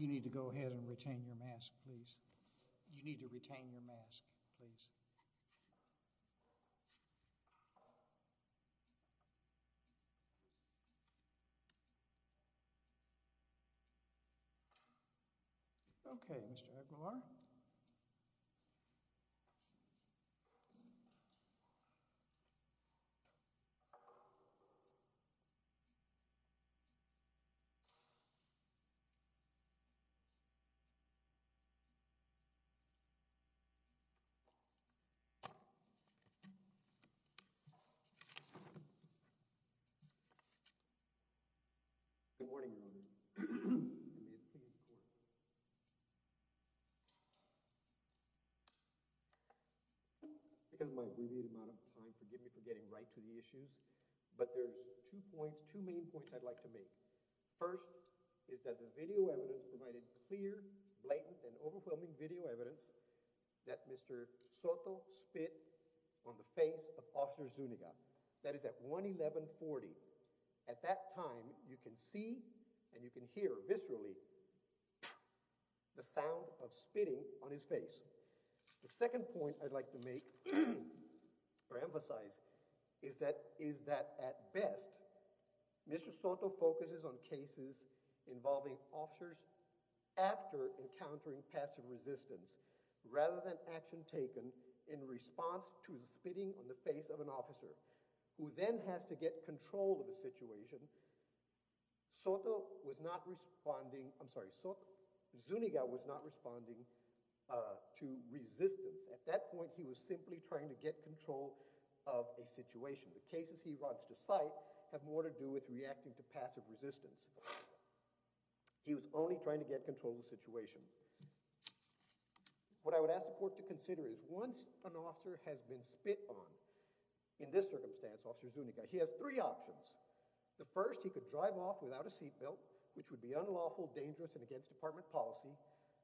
You need to go ahead and retain your mask, please. You need to retain your mask, please. Okay, Mr. Good morning, everyone. Because my abbreviated amount of time forgive me for getting right to the issues, but there's two points two main points. I'd like to make first is that the video evidence provided a clear blatant and overwhelming video evidence that Mr. Soto spit on the face of officer Zuniga that is at 111 40 at that time. You can see and you can hear viscerally the sound of spitting on his face. The second point I'd like to make or emphasize is that is that at best Mr. Soto focuses on cases involving officers after encountering passive resistance rather than action taken in response to the spitting on the face of an officer who then has to get control of the situation. Soto was not responding. I'm sorry. Soto Zuniga was not responding to resistance at that point. He was simply trying to get control of a situation the cases. He runs to site have more to do with reacting to passive resistance. He was only trying to get control of the situation. What I would ask the court to consider is once an officer has been spit on in this circumstance officer Zuniga. He has three options the first he could drive off without a seat belt, which would be unlawful dangerous and against department policy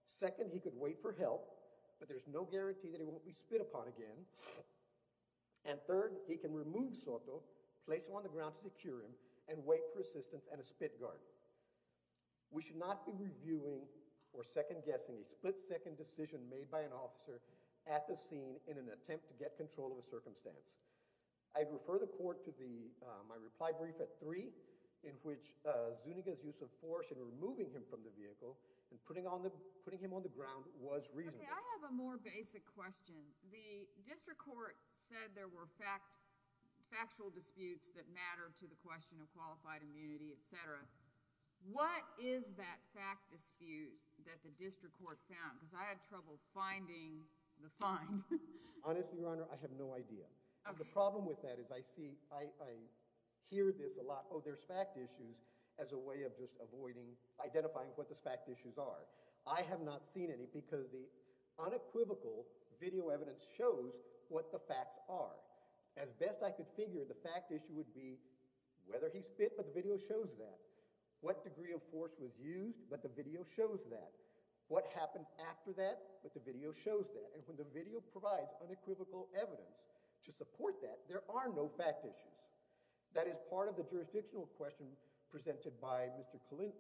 second. He could wait for help, but there's no guarantee that it won't be spit upon again. And third he can remove Soto place on the ground to secure him and wait for assistance and a spit guard. We should not be reviewing or second-guessing a split-second decision made by an officer at the scene in an attempt to get control of a circumstance. I refer the court to the my reply brief at 3 in which Zuniga's use of force and removing him from the vehicle and putting on the putting him on the ground was reason. I have a more basic question. The district court said there were fact factual disputes that matter to the question of qualified immunity, etc. What is that fact dispute that the district court found because I had trouble finding the fine. Honestly, your honor. I have no idea of the problem with that is I see I hear this a lot. Oh, there's fact issues as a way of just avoiding identifying what this fact issues are. I have not seen any because the unequivocal video evidence shows what the facts are as best. I could figure the fact issue would be whether he spit but the video shows that what degree of force was used but the video shows that what happened after that but the video shows that and when the video provides unequivocal evidence to support that there are no fact issues that is part of the jurisdictional question presented by Mr. Clinton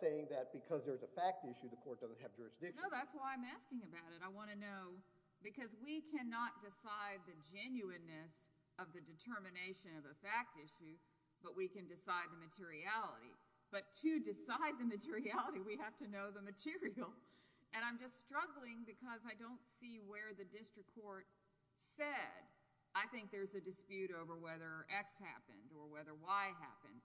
saying that because there's a fact issue the court doesn't have jurisdiction. That's why I'm asking about it. I want to know because we cannot decide the genuineness of the determination of a fact issue but we can decide the materiality but to decide the materiality we have to know the material and I'm just struggling because I don't see where the district court said I think there's a dispute over whether X happened or whether Y happened.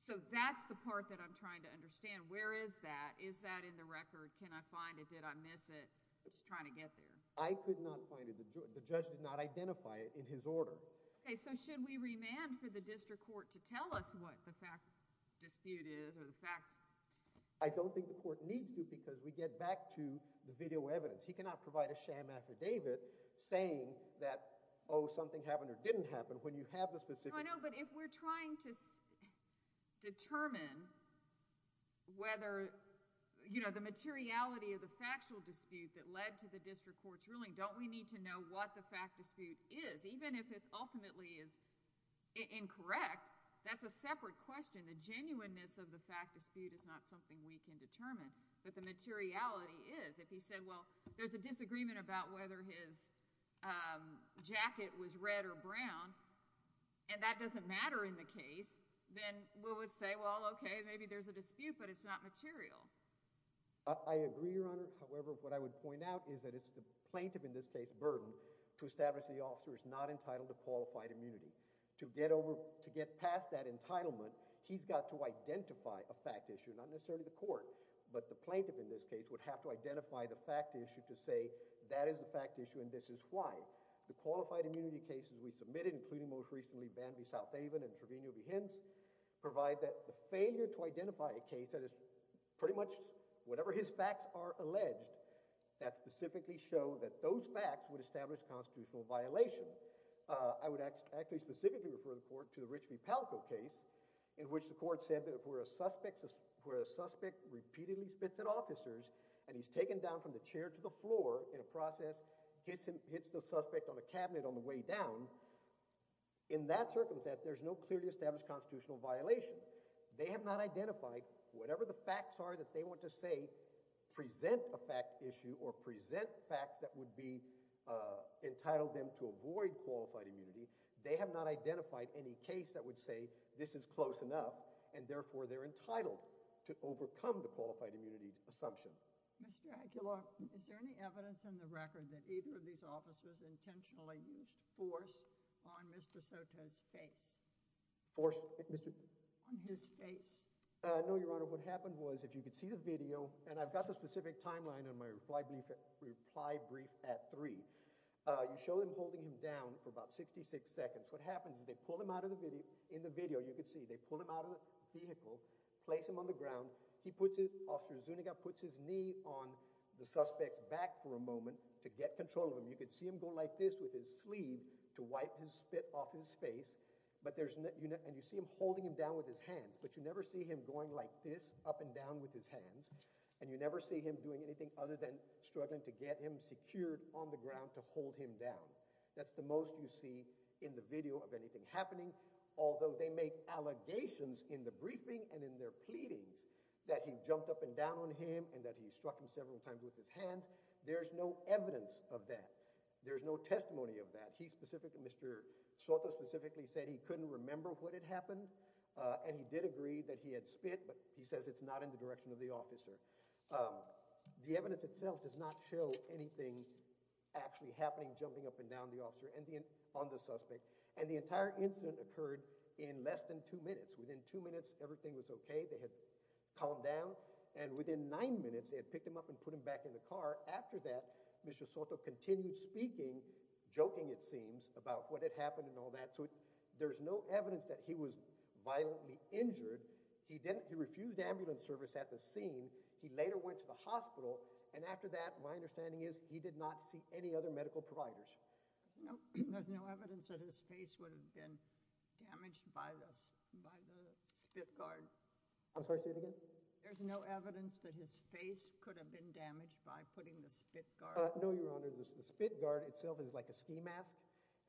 So that's the part that I'm trying to understand. Where is that? Is that in the record? Can I find it? Did I miss it? I'm just trying to get there. I could not find it. The judge did not identify it in his order. Okay. So should we remand for the district court to tell us what the fact dispute is or the fact? I don't think the court needs to because we get back to the video evidence. He cannot provide a sham affidavit saying that oh something happened or didn't happen when you have the specific. I know but if we're trying to determine whether you know the materiality of the factual dispute that led to the district court's ruling don't we need to know what the fact dispute is even if it ultimately is incorrect. That's a separate question. The genuineness of the fact dispute is not something we can determine but the materiality is if he said well, there's a doesn't matter in the case then we would say well, okay, maybe there's a dispute but it's not material. I agree your honor. However, what I would point out is that it's the plaintiff in this case burden to establish the officer is not entitled to qualified immunity to get over to get past that entitlement. He's got to identify a fact issue not necessarily the court, but the plaintiff in this case would have to identify the fact issue to say that is the fact issue and this is why the qualified immunity cases we submitted including most recently Bambi South Haven and Trevino Behance provide that the failure to identify a case that is pretty much whatever his facts are alleged that specifically show that those facts would establish constitutional violation. I would actually specifically refer the court to the Rich v. Palco case in which the court said that if we're a suspect where a suspect repeatedly spits at officers and he's taken down from the chair to the floor in a process hits him hits the suspect on a cabinet on the way down in that circumstance. There's no clearly established constitutional violation. They have not identified whatever the facts are that they want to say present a fact issue or present facts that would be entitled them to avoid qualified immunity. They have not identified any case that would say this is close enough and therefore they're entitled to overcome the qualified immunity assumption. Mr. Intentionally used force on Mr. Soto's face force on his face. No your honor. What happened was if you could see the video and I've got the specific timeline on my reply brief reply brief at 3 you show them holding him down for about 66 seconds. What happens is they pull him out of the video in the video you could see they pull him out of the vehicle place him on the ground. He puts it officer Zuniga puts his knee on the suspects back for a moment to get control of him. You could see him go like this with his sleeve to wipe his spit off his face. But there's no unit and you see him holding him down with his hands, but you never see him going like this up and down with his hands and you never see him doing anything other than struggling to get him secured on the ground to hold him down. That's the most you see in the video of anything happening. Although they make allegations in the briefing and in their pleadings that he jumped up and down on him and that he struck him several times with his hands. There's no evidence of that. There's no testimony of that. He specifically Mr. Soto specifically said he couldn't remember what had happened and he did agree that he had spit but he says it's not in the direction of the officer. The evidence itself does not show anything actually happening jumping up and down the officer and the on the suspect and the entire incident occurred in less than two minutes within two minutes. Everything was okay. They had calmed down and within nine minutes they had picked him up and put him back in the car. After that Mr. Soto continued speaking joking it seems about what had happened and all that. So there's no evidence that he was violently injured. He didn't he refused ambulance service at the scene. He later went to the hospital and after that my understanding is he did not see any other medical providers. There's no evidence that his face would have been damaged by this by the spit guard. I'm sorry. Say it again. There's no evidence that his face could have been damaged by putting the spit guard. No, your honor. The spit guard itself is like a ski mask.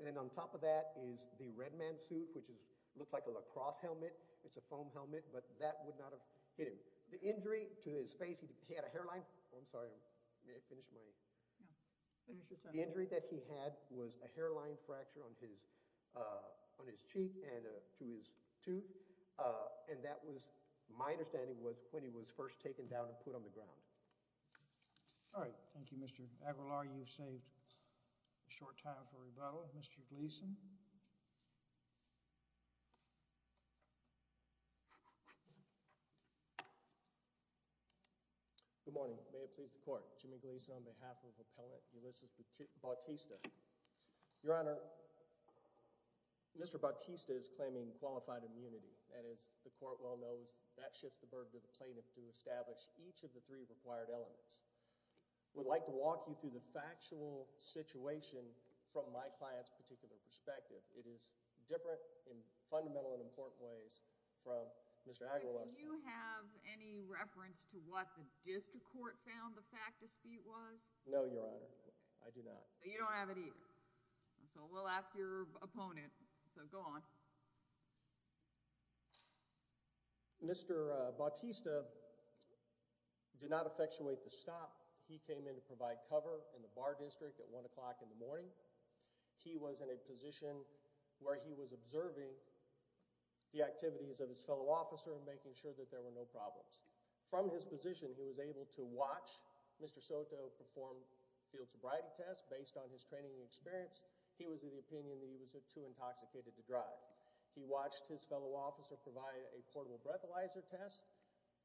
And then on top of that is the red man suit which is looked like a lacrosse helmet. It's a foam helmet, but that would not have hit him the injury to his face. He had a hairline. I'm sorry. I'm finished my injury that he had was a hairline fracture on his on his cheek and to his tooth. And that was my understanding was when he was first taken down and put on the ground. All right. Thank you. Mr. Aguilar. You've saved short time for rebuttal. Mr. Gleason. Good morning. May it please the court Jimmy Gleason on behalf of appellant Ulysses Bautista your honor. Mr. Bautista is claiming qualified immunity. And as the court well knows that shifts the burden to the plaintiff to establish each of the three required elements would like to walk you through the factual situation from my client's particular perspective. It is different in fundamental and important ways from Mr. Aguilar. Do you have any reference to what the district court found the fact dispute was? No, your honor. I do not. You don't have it either. So we'll ask your opponent. So go on. Mr. Bautista did not effectuate the stop. He came in to provide cover in the bar district at one o'clock in the morning. He was in a position where he was observing the activities of his fellow officer and making sure that there were no problems from his position. He was able to watch Mr. Soto perform field sobriety test based on his training experience. He was of the opinion that he was a too intoxicated to drive. He watched his fellow officer provide a portable breathalyzer test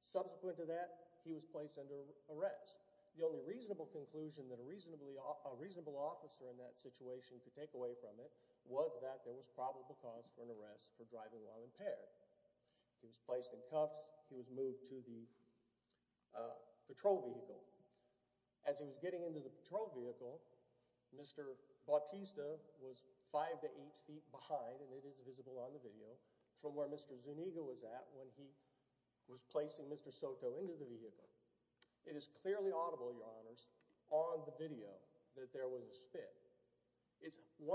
subsequent to that. He was placed under arrest. The only reasonable conclusion that a reasonably a reasonable officer in that situation could take away from it was that there was probable cause for an arrest for driving while impaired. He was placed in cuffs. He was moved to the patrol vehicle as he was getting into the patrol vehicle. Mr. Bautista was five to eight feet behind and it is visible on the video from where Mr. Zuniga was at when he was placing Mr. Soto into the vehicle. It is clearly audible your honors on the video that there was a spit. It's 100%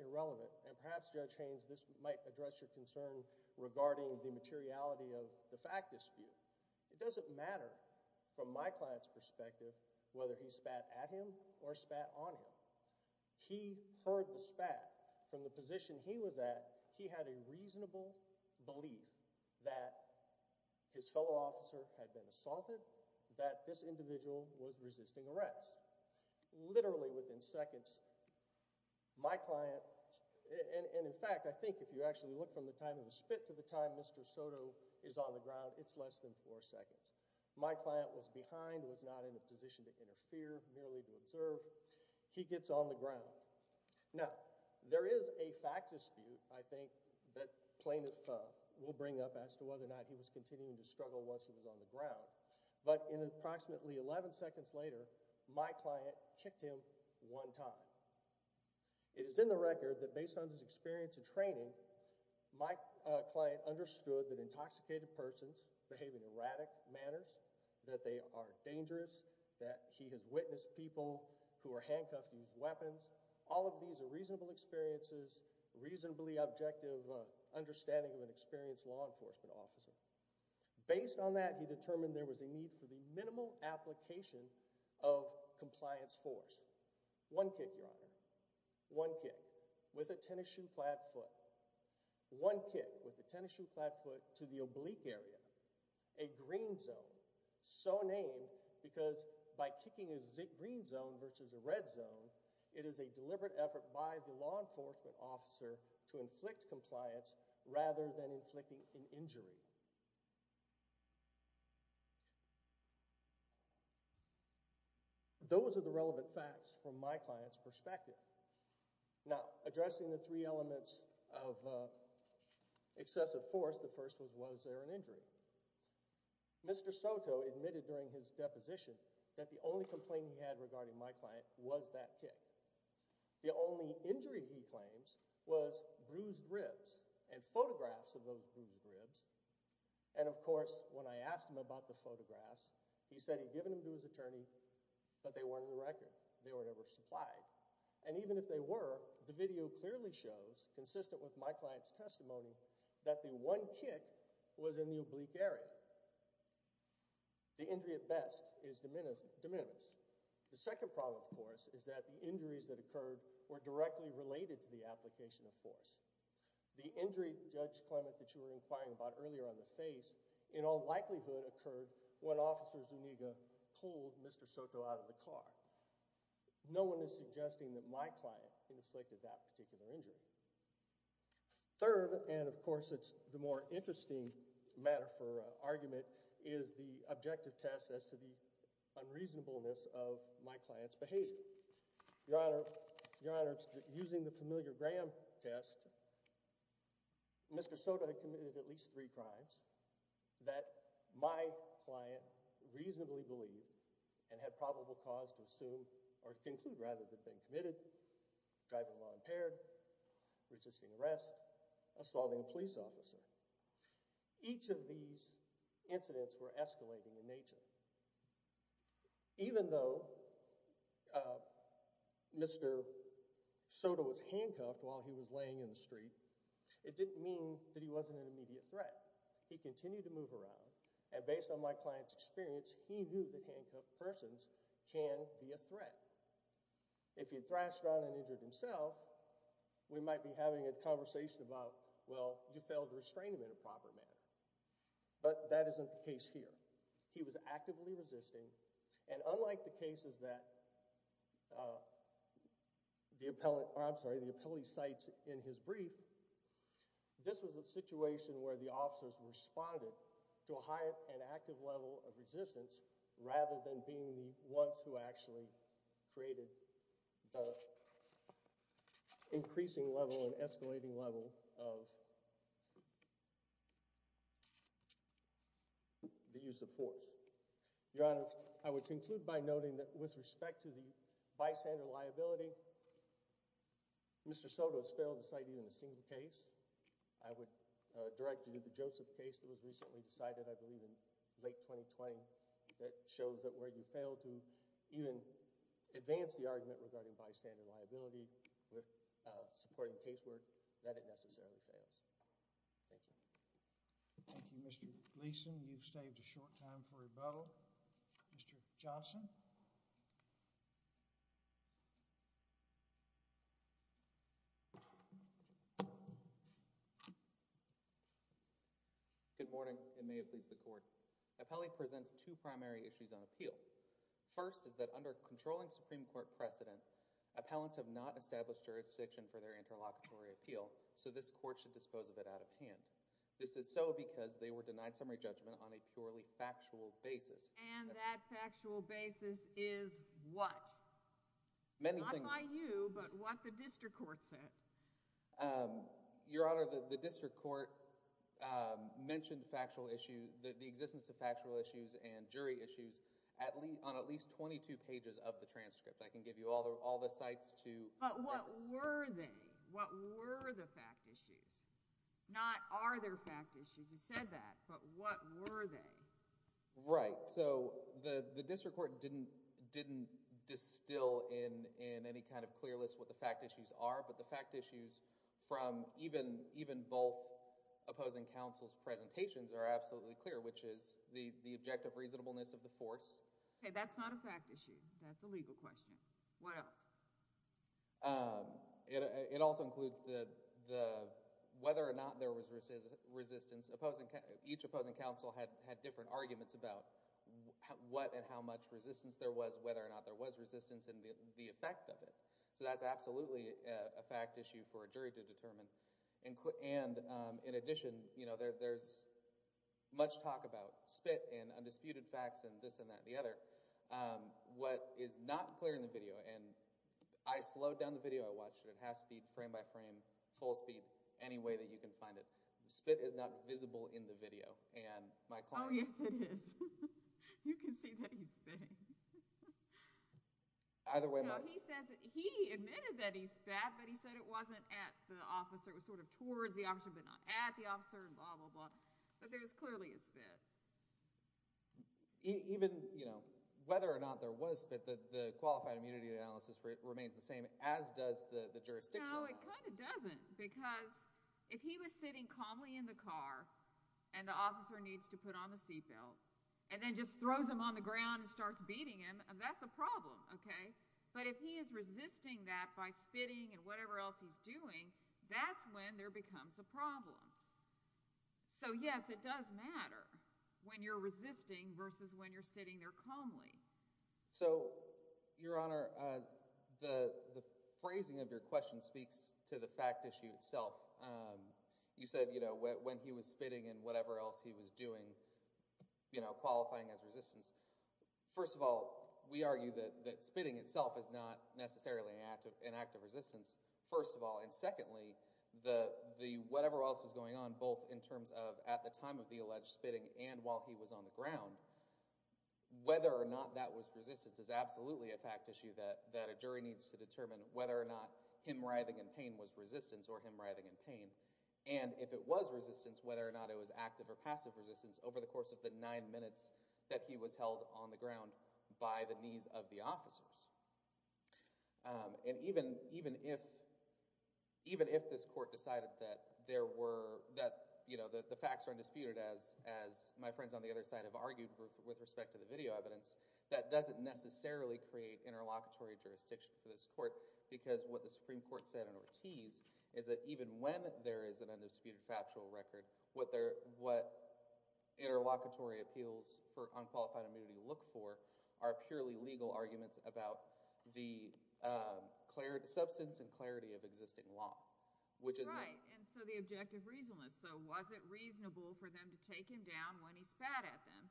irrelevant and perhaps judge Haynes this might address your concern regarding the materiality of the fact dispute. It doesn't matter from my client's perspective whether he sat on him. He heard the spat from the position. He was at he had a reasonable belief that his fellow officer had been assaulted that this individual was resisting arrest literally within seconds. My client and in fact, I think if you actually look from the time of the spit to the time, Mr. Soto is on the ground. It's less than four seconds. My client was behind was not in a position to interfere merely to observe. He gets on the ground. Now there is a fact dispute. I think that plaintiff will bring up as to whether or not he was continuing to struggle once he was on the ground, but in approximately 11 seconds later, my client kicked him one time. It is in the record that based on his experience of training my client understood that intoxicated persons behaving erratic manners that they are dangerous that he has witnessed people who are handcuffed use weapons. All of these are reasonable experiences reasonably objective understanding of an experienced law enforcement officer based on that. He determined there was a need for the minimal application of compliance force one kick your honor one kick with a tennis shoe clad foot one kick with the tennis shoe clad foot to the zone so named because by kicking is it green zone versus a red zone. It is a deliberate effort by the law enforcement officer to inflict compliance rather than inflicting an injury. Those are the relevant facts from my client's perspective. Now addressing the three elements of excessive force. The first was was there an injury? Mr. Soto admitted during his deposition that the only complaint he had regarding my client was that kick the only injury. He claims was bruised ribs and photographs of those bruised ribs. And of course when I asked him about the photographs, he said he'd given him to his attorney, but they weren't in the record. They were never supplied. And even if they were the video clearly shows consistent with my client's testimony that the one kick was in the oblique area. The injury at best is diminished de minimis. The second problem, of course, is that the injuries that occurred were directly related to the application of force. The injury Judge Clement that you were inquiring about earlier on the face in all likelihood occurred when officers Uniga pulled Mr. Soto out of the car. No one is suggesting that my client inflicted that particular injury. Third, and of course, it's the more interesting matter for argument is the objective test as to the unreasonableness of my clients behavior. Your Honor. Your Honor using the familiar Graham test. Mr. Soto had committed at least three crimes that my client reasonably believe and had probable cause to assume or conclude rather than committed driving while impaired resisting arrest assaulting a police officer. Each of these incidents were escalating in nature. Even though Mr. Soto was handcuffed while he was laying in the street. It didn't mean that he wasn't an immediate threat. He continued to move around and based on my client's experience. He knew that handcuffed persons can be a threat. If you thrashed around and injured himself, we might be having a conversation about well, you failed to restrain him in a proper manner, but that isn't the case here. He was actively resisting and unlike the cases that the appellate I'm sorry, the appellate sites in his brief. This was a situation where the officers responded to a higher and active level of resistance rather than being the ones who actually created the increasing level and escalating level of the use of force. Your Honor, I would conclude by noting that with respect to the bystander liability. Mr. Soto's failed to cite even a single case. I would direct you to the Joseph case that was recently decided. I believe in late 2020 that shows that where you failed to even advance the argument regarding bystander liability with supporting casework that it necessarily fails. Thank you. Thank you, Mr. Gleason. You've saved a short time for a bow. Mr. Johnson. Good morning and may it please the court. Appellate presents two primary issues on appeal. First is that under controlling Supreme Court precedent appellants have not established jurisdiction for their interlocutory appeal. So this court should dispose of it out of hand. This is so because they were denied summary judgment on a purely factual basis and that factual basis is what many things I you but what the district court said your honor the district court mentioned factual issue that the existence of factual issues and jury issues at least on at least 22 pages of the transcript. I can give you all the all the sites to but what were they what were the fact issues not are there fact issues you said that but what were they right. So the district court didn't didn't distill in any kind of clear list what the fact issues are but the fact issues from even even both opposing counsels presentations are absolutely clear which is the objective reasonableness of the force. Hey that's not a fact issue. That's a legal question. What else. It also includes the the whether or not there was resist resistance opposing each opposing counsel had had different arguments about what and how much resistance there was whether or not there was resistance and the effect of it. So that's absolutely a fact issue for a jury to determine and and in addition you know there's much talk about spit and undisputed facts and this and that and the other what is not clear in the video and I slowed down the video I watched it at half speed frame by frame full speed any way that you can find it. Spit is not visible in the video and my client. Yes it is. You can see that he's either way. He says he admitted that he's fat but he said it wasn't at the officer it was sort of towards the option but not at the officer and blah blah blah but there's clearly a spit even you know whether or not there was spit that the qualified immunity analysis remains the same as does the jurisdiction doesn't because if he was sitting calmly in the car and the officer needs to put on the seatbelt and then just throws him on the ground and starts beating him and that's a problem. Okay, but if he is resisting that by spitting and whatever else he's doing that's when there becomes a problem. So yes it does matter when you're resisting versus when you're sitting there calmly. So your honor the phrasing of your question speaks to the fact issue itself. You said you know when he was spitting and whatever else he was doing you know qualifying as resistance. First of all we argue that that spitting itself is not necessarily active inactive resistance. First of all and secondly the the whatever else is going on both in terms of at the time of the alleged spitting and while he was on the ground whether or not that was resistance is absolutely a fact issue that that a jury needs to determine whether or not him writhing in pain was resistance or him writhing in pain and if it was resistance whether or not it was active or passive resistance over the course of the nine minutes that he was held on the ground by the knees of the officers and even even if even if this court decided that there were that you know that the facts are disputed as as my friends on the other side of argued with respect to the video evidence that doesn't necessarily create interlocutory jurisdiction for this court because what the Supreme Court said in Ortiz is that even when there is an undisputed factual record what their what interlocutory appeals for unqualified immunity look for are purely legal arguments about the clarity substance and clarity of existing law which is right and so the objective reason is so was it reasonable for them to take him down when he spat at them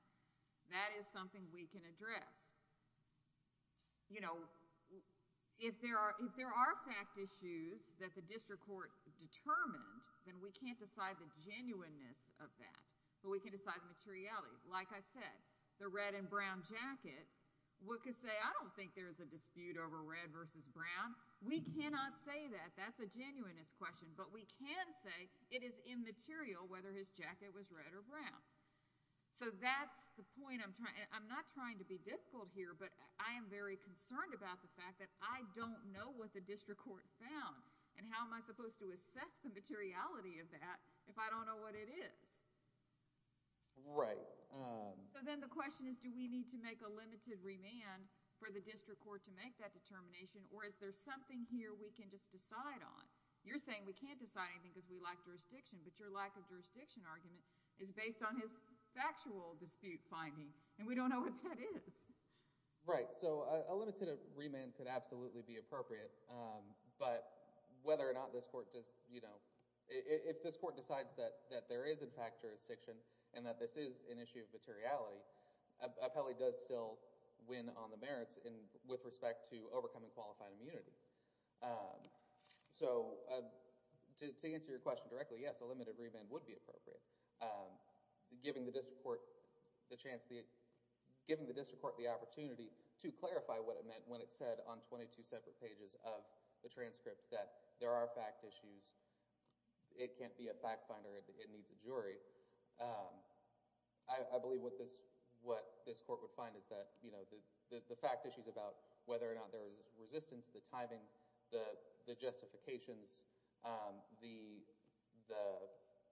that is something we can address you know if there are if there are fact issues that the district court determined then we can't decide the genuineness of that but we can decide the materiality like I said the red and brown jacket what could say I don't think there is a dispute over red versus brown we cannot say that that's a genuineness question but we can say it is immaterial whether his jacket was red or brown so that's the point I'm trying I'm not trying to be difficult here but I am very concerned about the fact that I don't know what the district court found and how am I supposed to assess the materiality of that if I don't know what it is right so then the question is do we need to make a limited remand for the district court to make that determination or is there something here we can just decide on you're saying we can't decide anything because we like jurisdiction but your lack of jurisdiction argument is based on his factual dispute finding and we don't know what that is right so a limited remand could absolutely be appropriate but whether or not this court does you and that this is an issue of materiality Apelli does still win on the merits in with respect to overcoming qualified immunity so to answer your question directly yes a limited remand would be appropriate giving the district court the chance the giving the district court the opportunity to clarify what it meant when it said on 22 separate pages of the transcript that there are fact issues it can't be a fact finder it needs a jury I believe what this what this court would find is that you know the the fact issues about whether or not there is resistance the timing the the justifications the the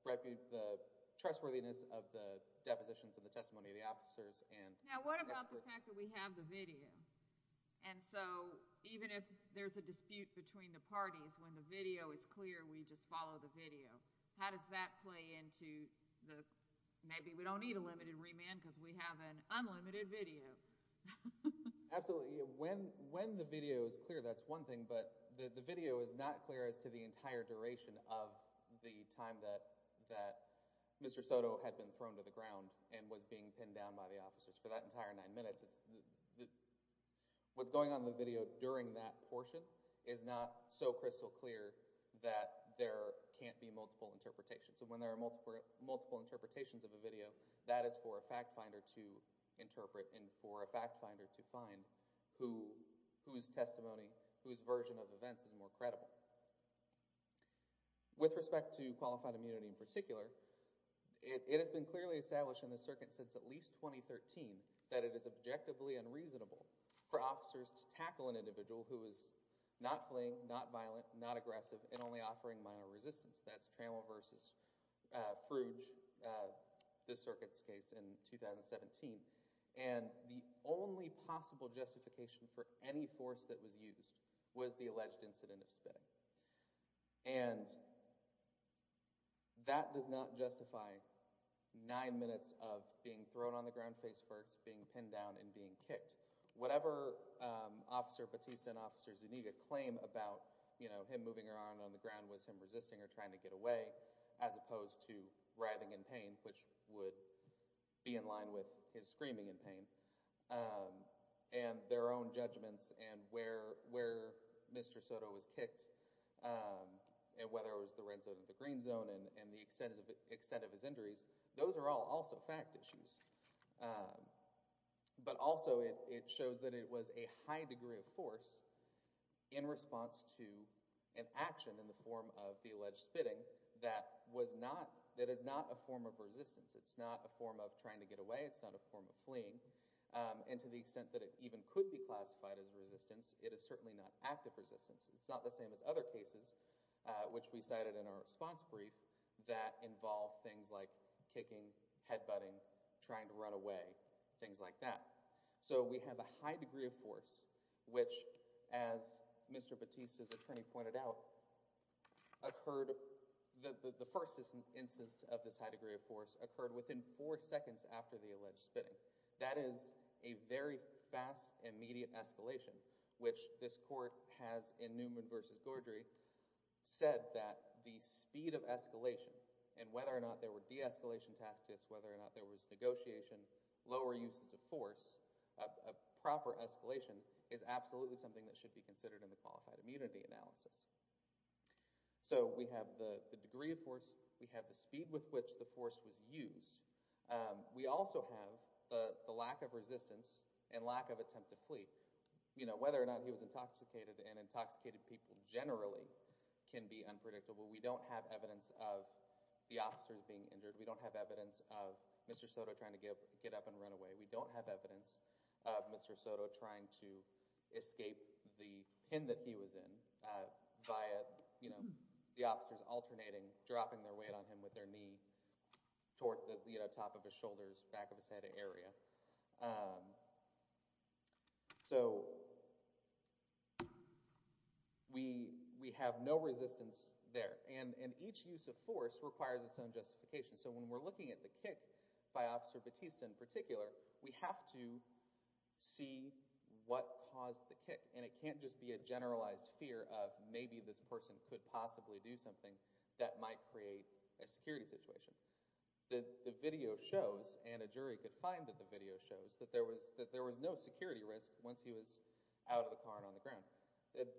repute the trustworthiness of the depositions of the testimony of the officers and now what about the fact that we have the video and so even if there's a dispute between the parties when the video is into the maybe we don't need a limited remand because we have an unlimited video absolutely when when the video is clear that's one thing but the video is not clear as to the entire duration of the time that that mr. Soto had been thrown to the ground and was being pinned down by the officers for that entire nine minutes it's what's going on the video during that portion is not so crystal clear that there can't be multiple interpretation so when there are multiple multiple interpretations of a video that is for a fact finder to interpret and for a fact finder to find who whose testimony whose version of events is more credible with respect to qualified immunity in particular it has been clearly established in the circuit since at least 2013 that it is objectively unreasonable for officers to tackle an individual who is not fleeing not violent not aggressive and only offering minor resistance that's versus the circuits case in 2017 and the only possible justification for any force that was used was the alleged incident of spitting and that does not justify nine minutes of being thrown on the ground face first being pinned down and being kicked whatever officer Batista and officers you need a claim about you know him moving around on the ground was him resisting or trying to get away as opposed to writhing in pain which would be in line with his screaming in pain and their own judgments and where where mr. Soto was kicked and whether it was the red zone of the green zone and the extensive extent of his injuries those are all also fact issues but also it shows that it was a high degree of force in response to an action in the form of the that was not that is not a form of resistance it's not a form of trying to get away it's not a form of fleeing and to the extent that it even could be classified as resistance it is certainly not active resistance it's not the same as other cases which we cited in our response brief that involve things like kicking head-butting trying to run away things like that so we have a high force which as mr. Batista's attorney pointed out occurred the first instance of this high degree of force occurred within four seconds after the alleged spitting that is a very fast immediate escalation which this court has in Newman vs. Gordry said that the speed of escalation and whether or not there were de-escalation tactics whether or not there was negotiation lower uses of proper escalation is absolutely something that should be considered in the qualified immunity analysis so we have the degree of force we have the speed with which the force was used we also have the lack of resistance and lack of attempt to flee you know whether or not he was intoxicated and intoxicated people generally can be unpredictable we don't have evidence of the officers being injured we don't have evidence of mr. Soto trying to give get up and run away we don't have evidence mr. Soto trying to escape the pin that he was in by you know the officers alternating dropping their weight on him with their knee toward the top of his shoulders back of his head area so we we have no resistance there and in each use of force requires its own justification so when we're looking at the kick by officer Batista in particular we have to see what caused the kick and it can't just be a generalized fear of maybe this person could possibly do something that might create a security situation the video shows and a jury could find that the video shows that there was that there was no security risk once he was out of the car and on the ground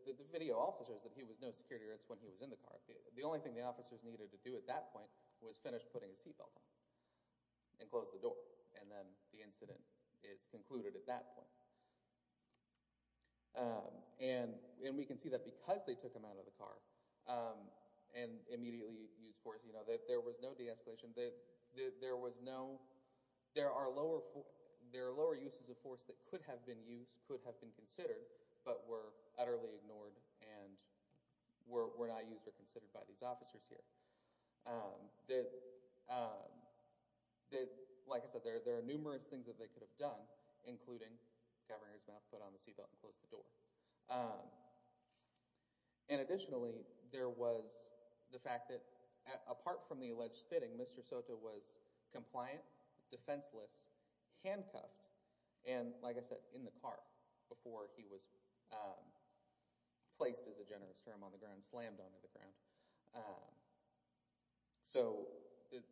the video also shows that he was no security risk when he was in the car the only thing the officers needed to do at that point was putting a seatbelt on and close the door and then the incident is concluded at that point and we can see that because they took him out of the car and immediately use force you know that there was no de-escalation that there was no there are lower there are lower uses of force that could have been used could have been considered but were utterly ignored and were not used or that like I said there there are numerous things that they could have done including governor's mouth put on the seatbelt and close the door and additionally there was the fact that apart from the alleged spitting mr. Soto was compliant defenseless handcuffed and like I said in the car before he was placed as a generous term on the ground slammed onto the ground so that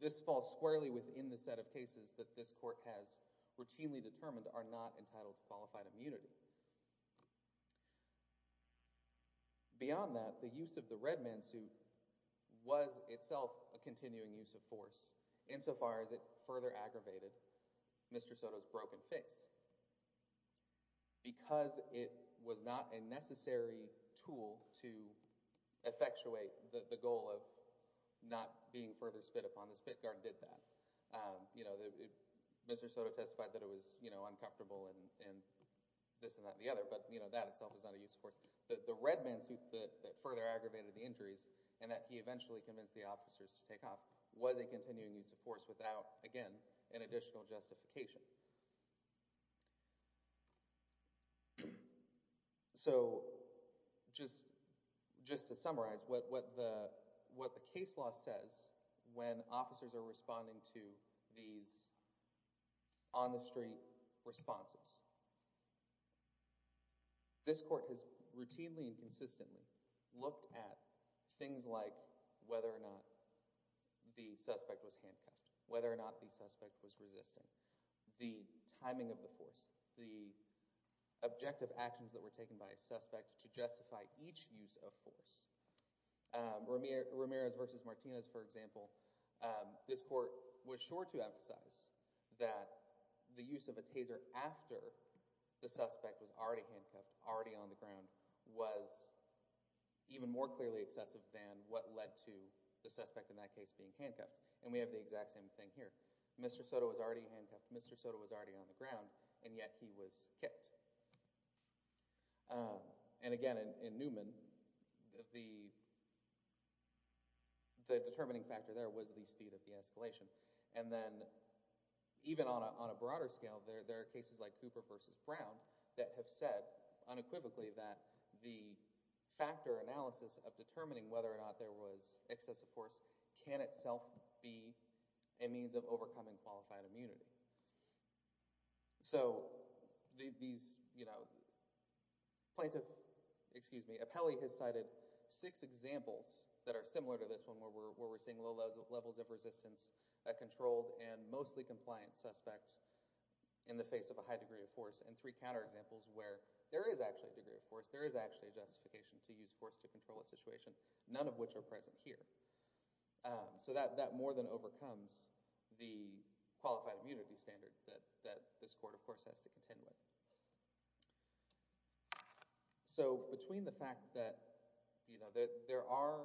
this falls squarely within the set of cases that this court has routinely determined are not entitled to qualified immunity beyond that the use of the red man suit was itself a continuing use of force insofar as it further aggravated mr. Soto's broken face because it was not a necessary tool to effectuate the being further spit upon the spit guard did that you know that mr. Soto testified that it was you know uncomfortable and this and that the other but you know that itself is not a use of force that the red man suit that further aggravated the injuries and that he eventually convinced the officers to take off was a continuing use of force without again an additional justification so just just to summarize what what the what the case law says when officers are responding to these on the street responses this court has routinely and consistently looked at things like whether or not the suspect was handcuffed whether or not the suspect was resisting the timing of the force the objective actions that were taken by a suspect to justify each use of force Ramirez versus Martinez for example this court was sure to emphasize that the use of a taser after the suspect was already handcuffed already on the ground was even more clearly excessive than what led to the suspect in that case being handcuffed and we was already on the ground and yet he was kicked and again in Newman the the determining factor there was the speed of the escalation and then even on a broader scale there there are cases like Cooper versus Brown that have said unequivocally that the factor analysis of determining whether or not there was excessive force can itself be a means of overcoming qualified immunity so these you know plaintiff excuse me a Pele has cited six examples that are similar to this one where we're seeing low levels of resistance controlled and mostly compliant suspect in the face of a high degree of force and three counter examples where there is actually a degree of force there is actually a justification to use force to control a situation none of which are present here so that that more than overcomes the qualified immunity standard that that this court of course has to contend with so between the fact that you know that there are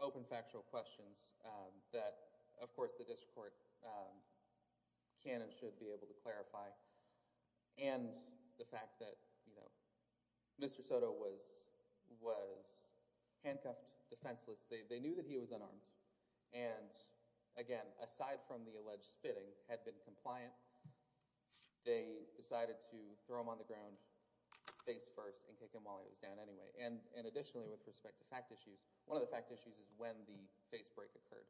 open factual questions that of course the district court can and should be able to clarify and the fact that you know was handcuffed defenseless they knew that he was unarmed and again aside from the alleged spitting had been compliant they decided to throw him on the ground face first and kick him while he was down anyway and and additionally with respect to fact issues one of the fact issues is when the face break occurred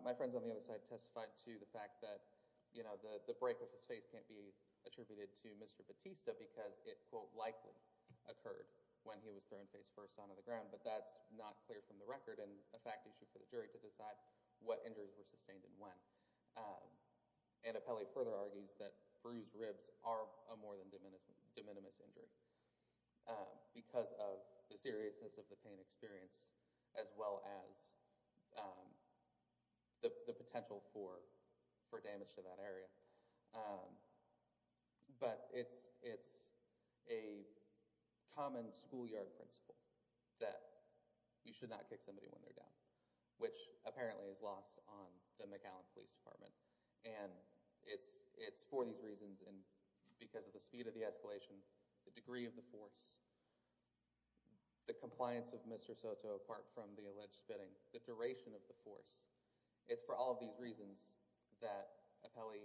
my friends on the other side testified to the fact that you know the the break of his face can't be attributed to mr. Batista because it quote likely occurred when he was thrown face first on the ground but that's not clear from the record and a fact issue for the jury to decide what injuries were sustained in one and a Pele further argues that bruised ribs are a more than diminished de minimis injury because of the seriousness of the pain experienced as well as the potential for for damage to that area but it's it's a common schoolyard principle that you should not kick somebody when they're down which apparently is lost on the McAllen Police Department and it's it's for these reasons and because of the speed of the escalation the degree of the force the compliance of mr. Soto apart from the alleged spitting the duration of the force it's for all of these reasons that a Pele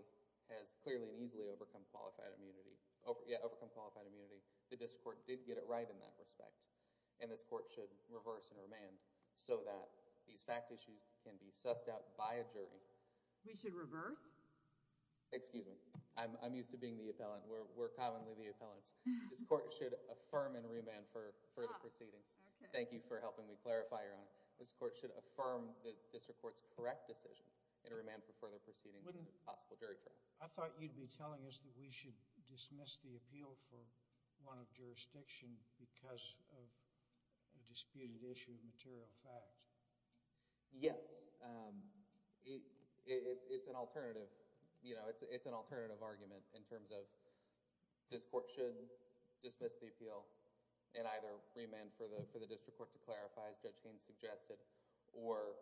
has clearly and easily overcome qualified immunity over yet overcome qualified immunity the respect and this court should reverse and remand so that these fact issues can be sussed out by a jury we should reverse excuse me I'm used to being the appellant we're commonly the appellants this court should affirm and remand for further proceedings thank you for helping me clarify your honor this court should affirm the district courts correct decision and remand for further proceedings with a possible jury trial I thought you'd be telling us that we should dismiss the appeal for one of jurisdiction because of a disputed issue of material facts yes it's an alternative you know it's an alternative argument in terms of this court should dismiss the appeal and either remand for the for the district court to clarify as judge Haines suggested or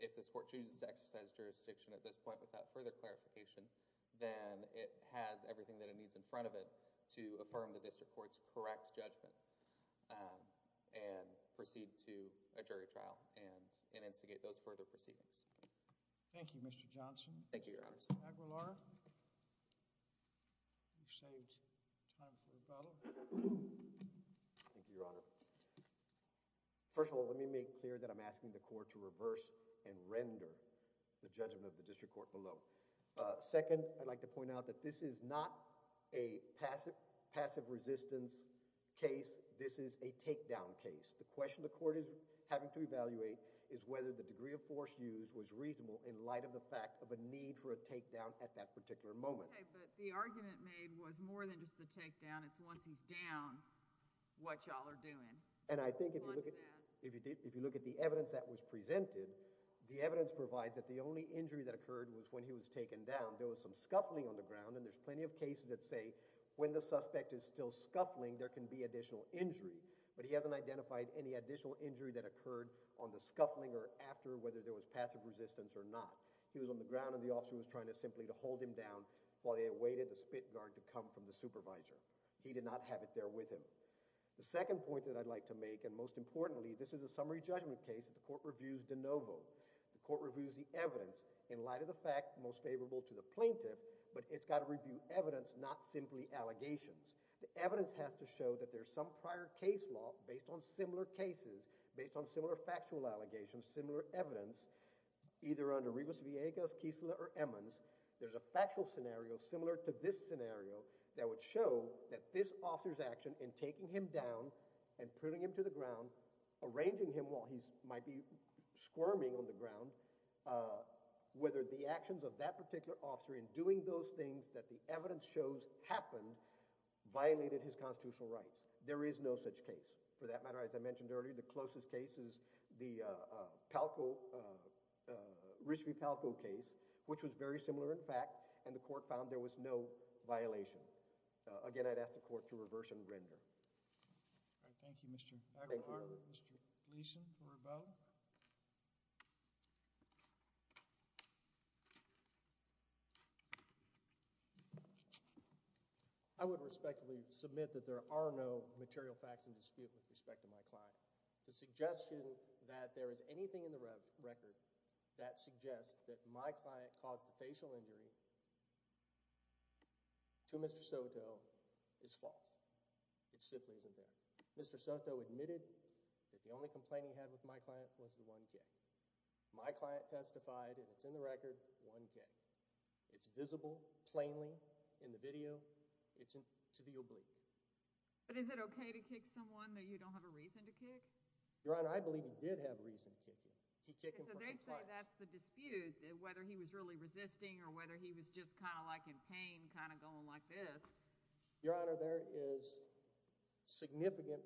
if this court chooses to exercise jurisdiction at this point without further clarification then it has everything that it needs in front of it to affirm the district courts correct judgment and proceed to a jury trial and in instigate those further proceedings thank you mr. Johnson thank you your honors first of all let me make clear that I'm asking the court to reverse and render the judgment of second I'd like to point out that this is not a passive passive resistance case this is a takedown case the question the court is having to evaluate is whether the degree of force used was reasonable in light of the fact of a need for a takedown at that particular moment the argument made was more than just the takedown it's once he's down what y'all are doing and I think if you look at if you did if you look at the evidence that was presented the evidence provides that the only injury that occurred was when he was taken down there was some scuffling on the ground and there's plenty of cases that say when the suspect is still scuffling there can be additional injury but he hasn't identified any additional injury that occurred on the scuffling or after whether there was passive resistance or not he was on the ground and the officer was trying to simply to hold him down while they awaited the spit guard to come from the supervisor he did not have it there with him the second point that I'd like to make and most importantly this is a summary judgment case at the court reviews the evidence in light of the fact most favorable to the plaintiff but it's got to review evidence not simply allegations the evidence has to show that there's some prior case law based on similar cases based on similar factual allegations similar evidence either under Rivas Viegas Kiesler or Emmons there's a factual scenario similar to this scenario that would show that this officer's action in taking him down and putting him to the ground arranging him while he's might be squirming on the ground whether the actions of that particular officer in doing those things that the evidence shows happened violated his constitutional rights there is no such case for that matter as I mentioned earlier the closest cases the Palco Richard Palco case which was very similar in fact and the court found there was no violation again I'd ask the court to reverse and render. Thank you, Mr. I would respectfully submit that there are no material facts in dispute with respect to my client the suggestion that there is anything in the record that suggests that my client caused a facial injury. To Mr. Soto is false it simply isn't there Mr. Soto admitted that the only complaining had with my client was the 1k my client testified and it's in the record 1k it's visible plainly in the video it's in to the oblique but is it okay to kick someone that you don't have a reason to kick your honor I believe he did have a reason to kick him. He kicked him. That's the dispute whether he was really resisting or whether he was just kind of like in pain kind of going like this your honor there is significant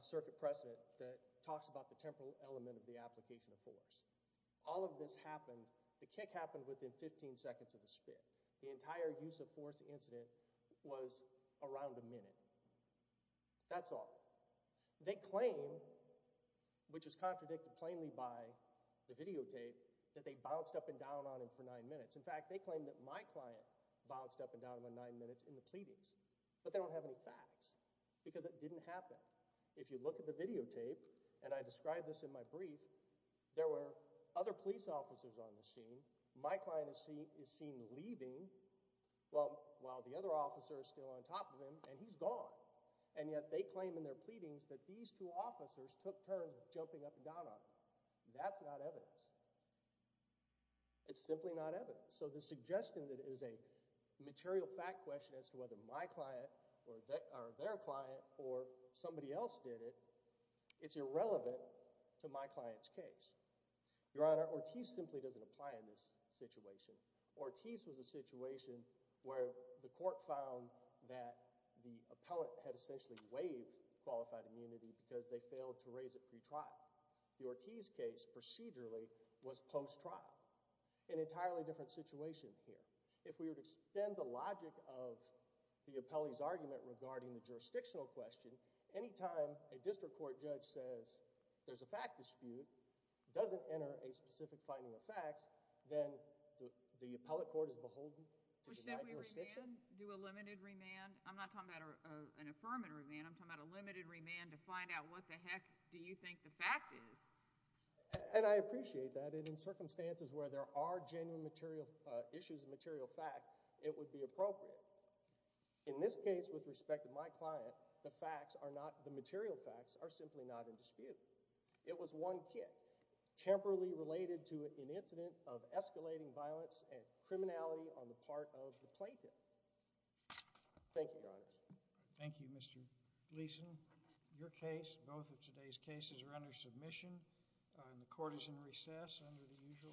circuit precedent that talks about the temporal element of the application of force all of this happened the kick happened within 15 seconds of the spit the entire use of force incident was around a minute. That's all they claim which is contradicted plainly by the videotape that they bounced up and down on him for nine minutes in fact they claim that my client bounced up and down with nine minutes in the pleadings but they don't have any facts because it didn't happen if you look at the videotape and I described this in my brief there were other police officers on the scene my client is seen is seen leaving well while the other officers still on top of him and he's gone and yet they claim in their pleadings that these two officers took turns jumping up and down on that's not evidence it's simply not evidence so the suggestion that is a material fact question as to whether my client or their client or somebody else did it it's irrelevant to my client's case your honor Ortiz simply doesn't apply in this situation Ortiz was a situation where the court found that the appellate had essentially waived qualified immunity because they failed to raise it pretrial the Ortiz case procedurally was post trial an entirely different situation here if we were to spend the logic of the appellee's argument regarding the jurisdictional question anytime a district court judge says there's a fact dispute doesn't enter a specific finding of facts then the appellate court is beholden to find out what the heck do you think the fact is and I appreciate that in circumstances where there are genuine material issues material fact it would be appropriate in this case with respect to my client the facts are not the material facts are simply not in dispute it was one kid temporarily related to an incident of escalating violence and criminality on the part of the plaintiff thank you your honor thank you mr. Gleason your case both of today's cases are under submission and the court is in recess under the usual order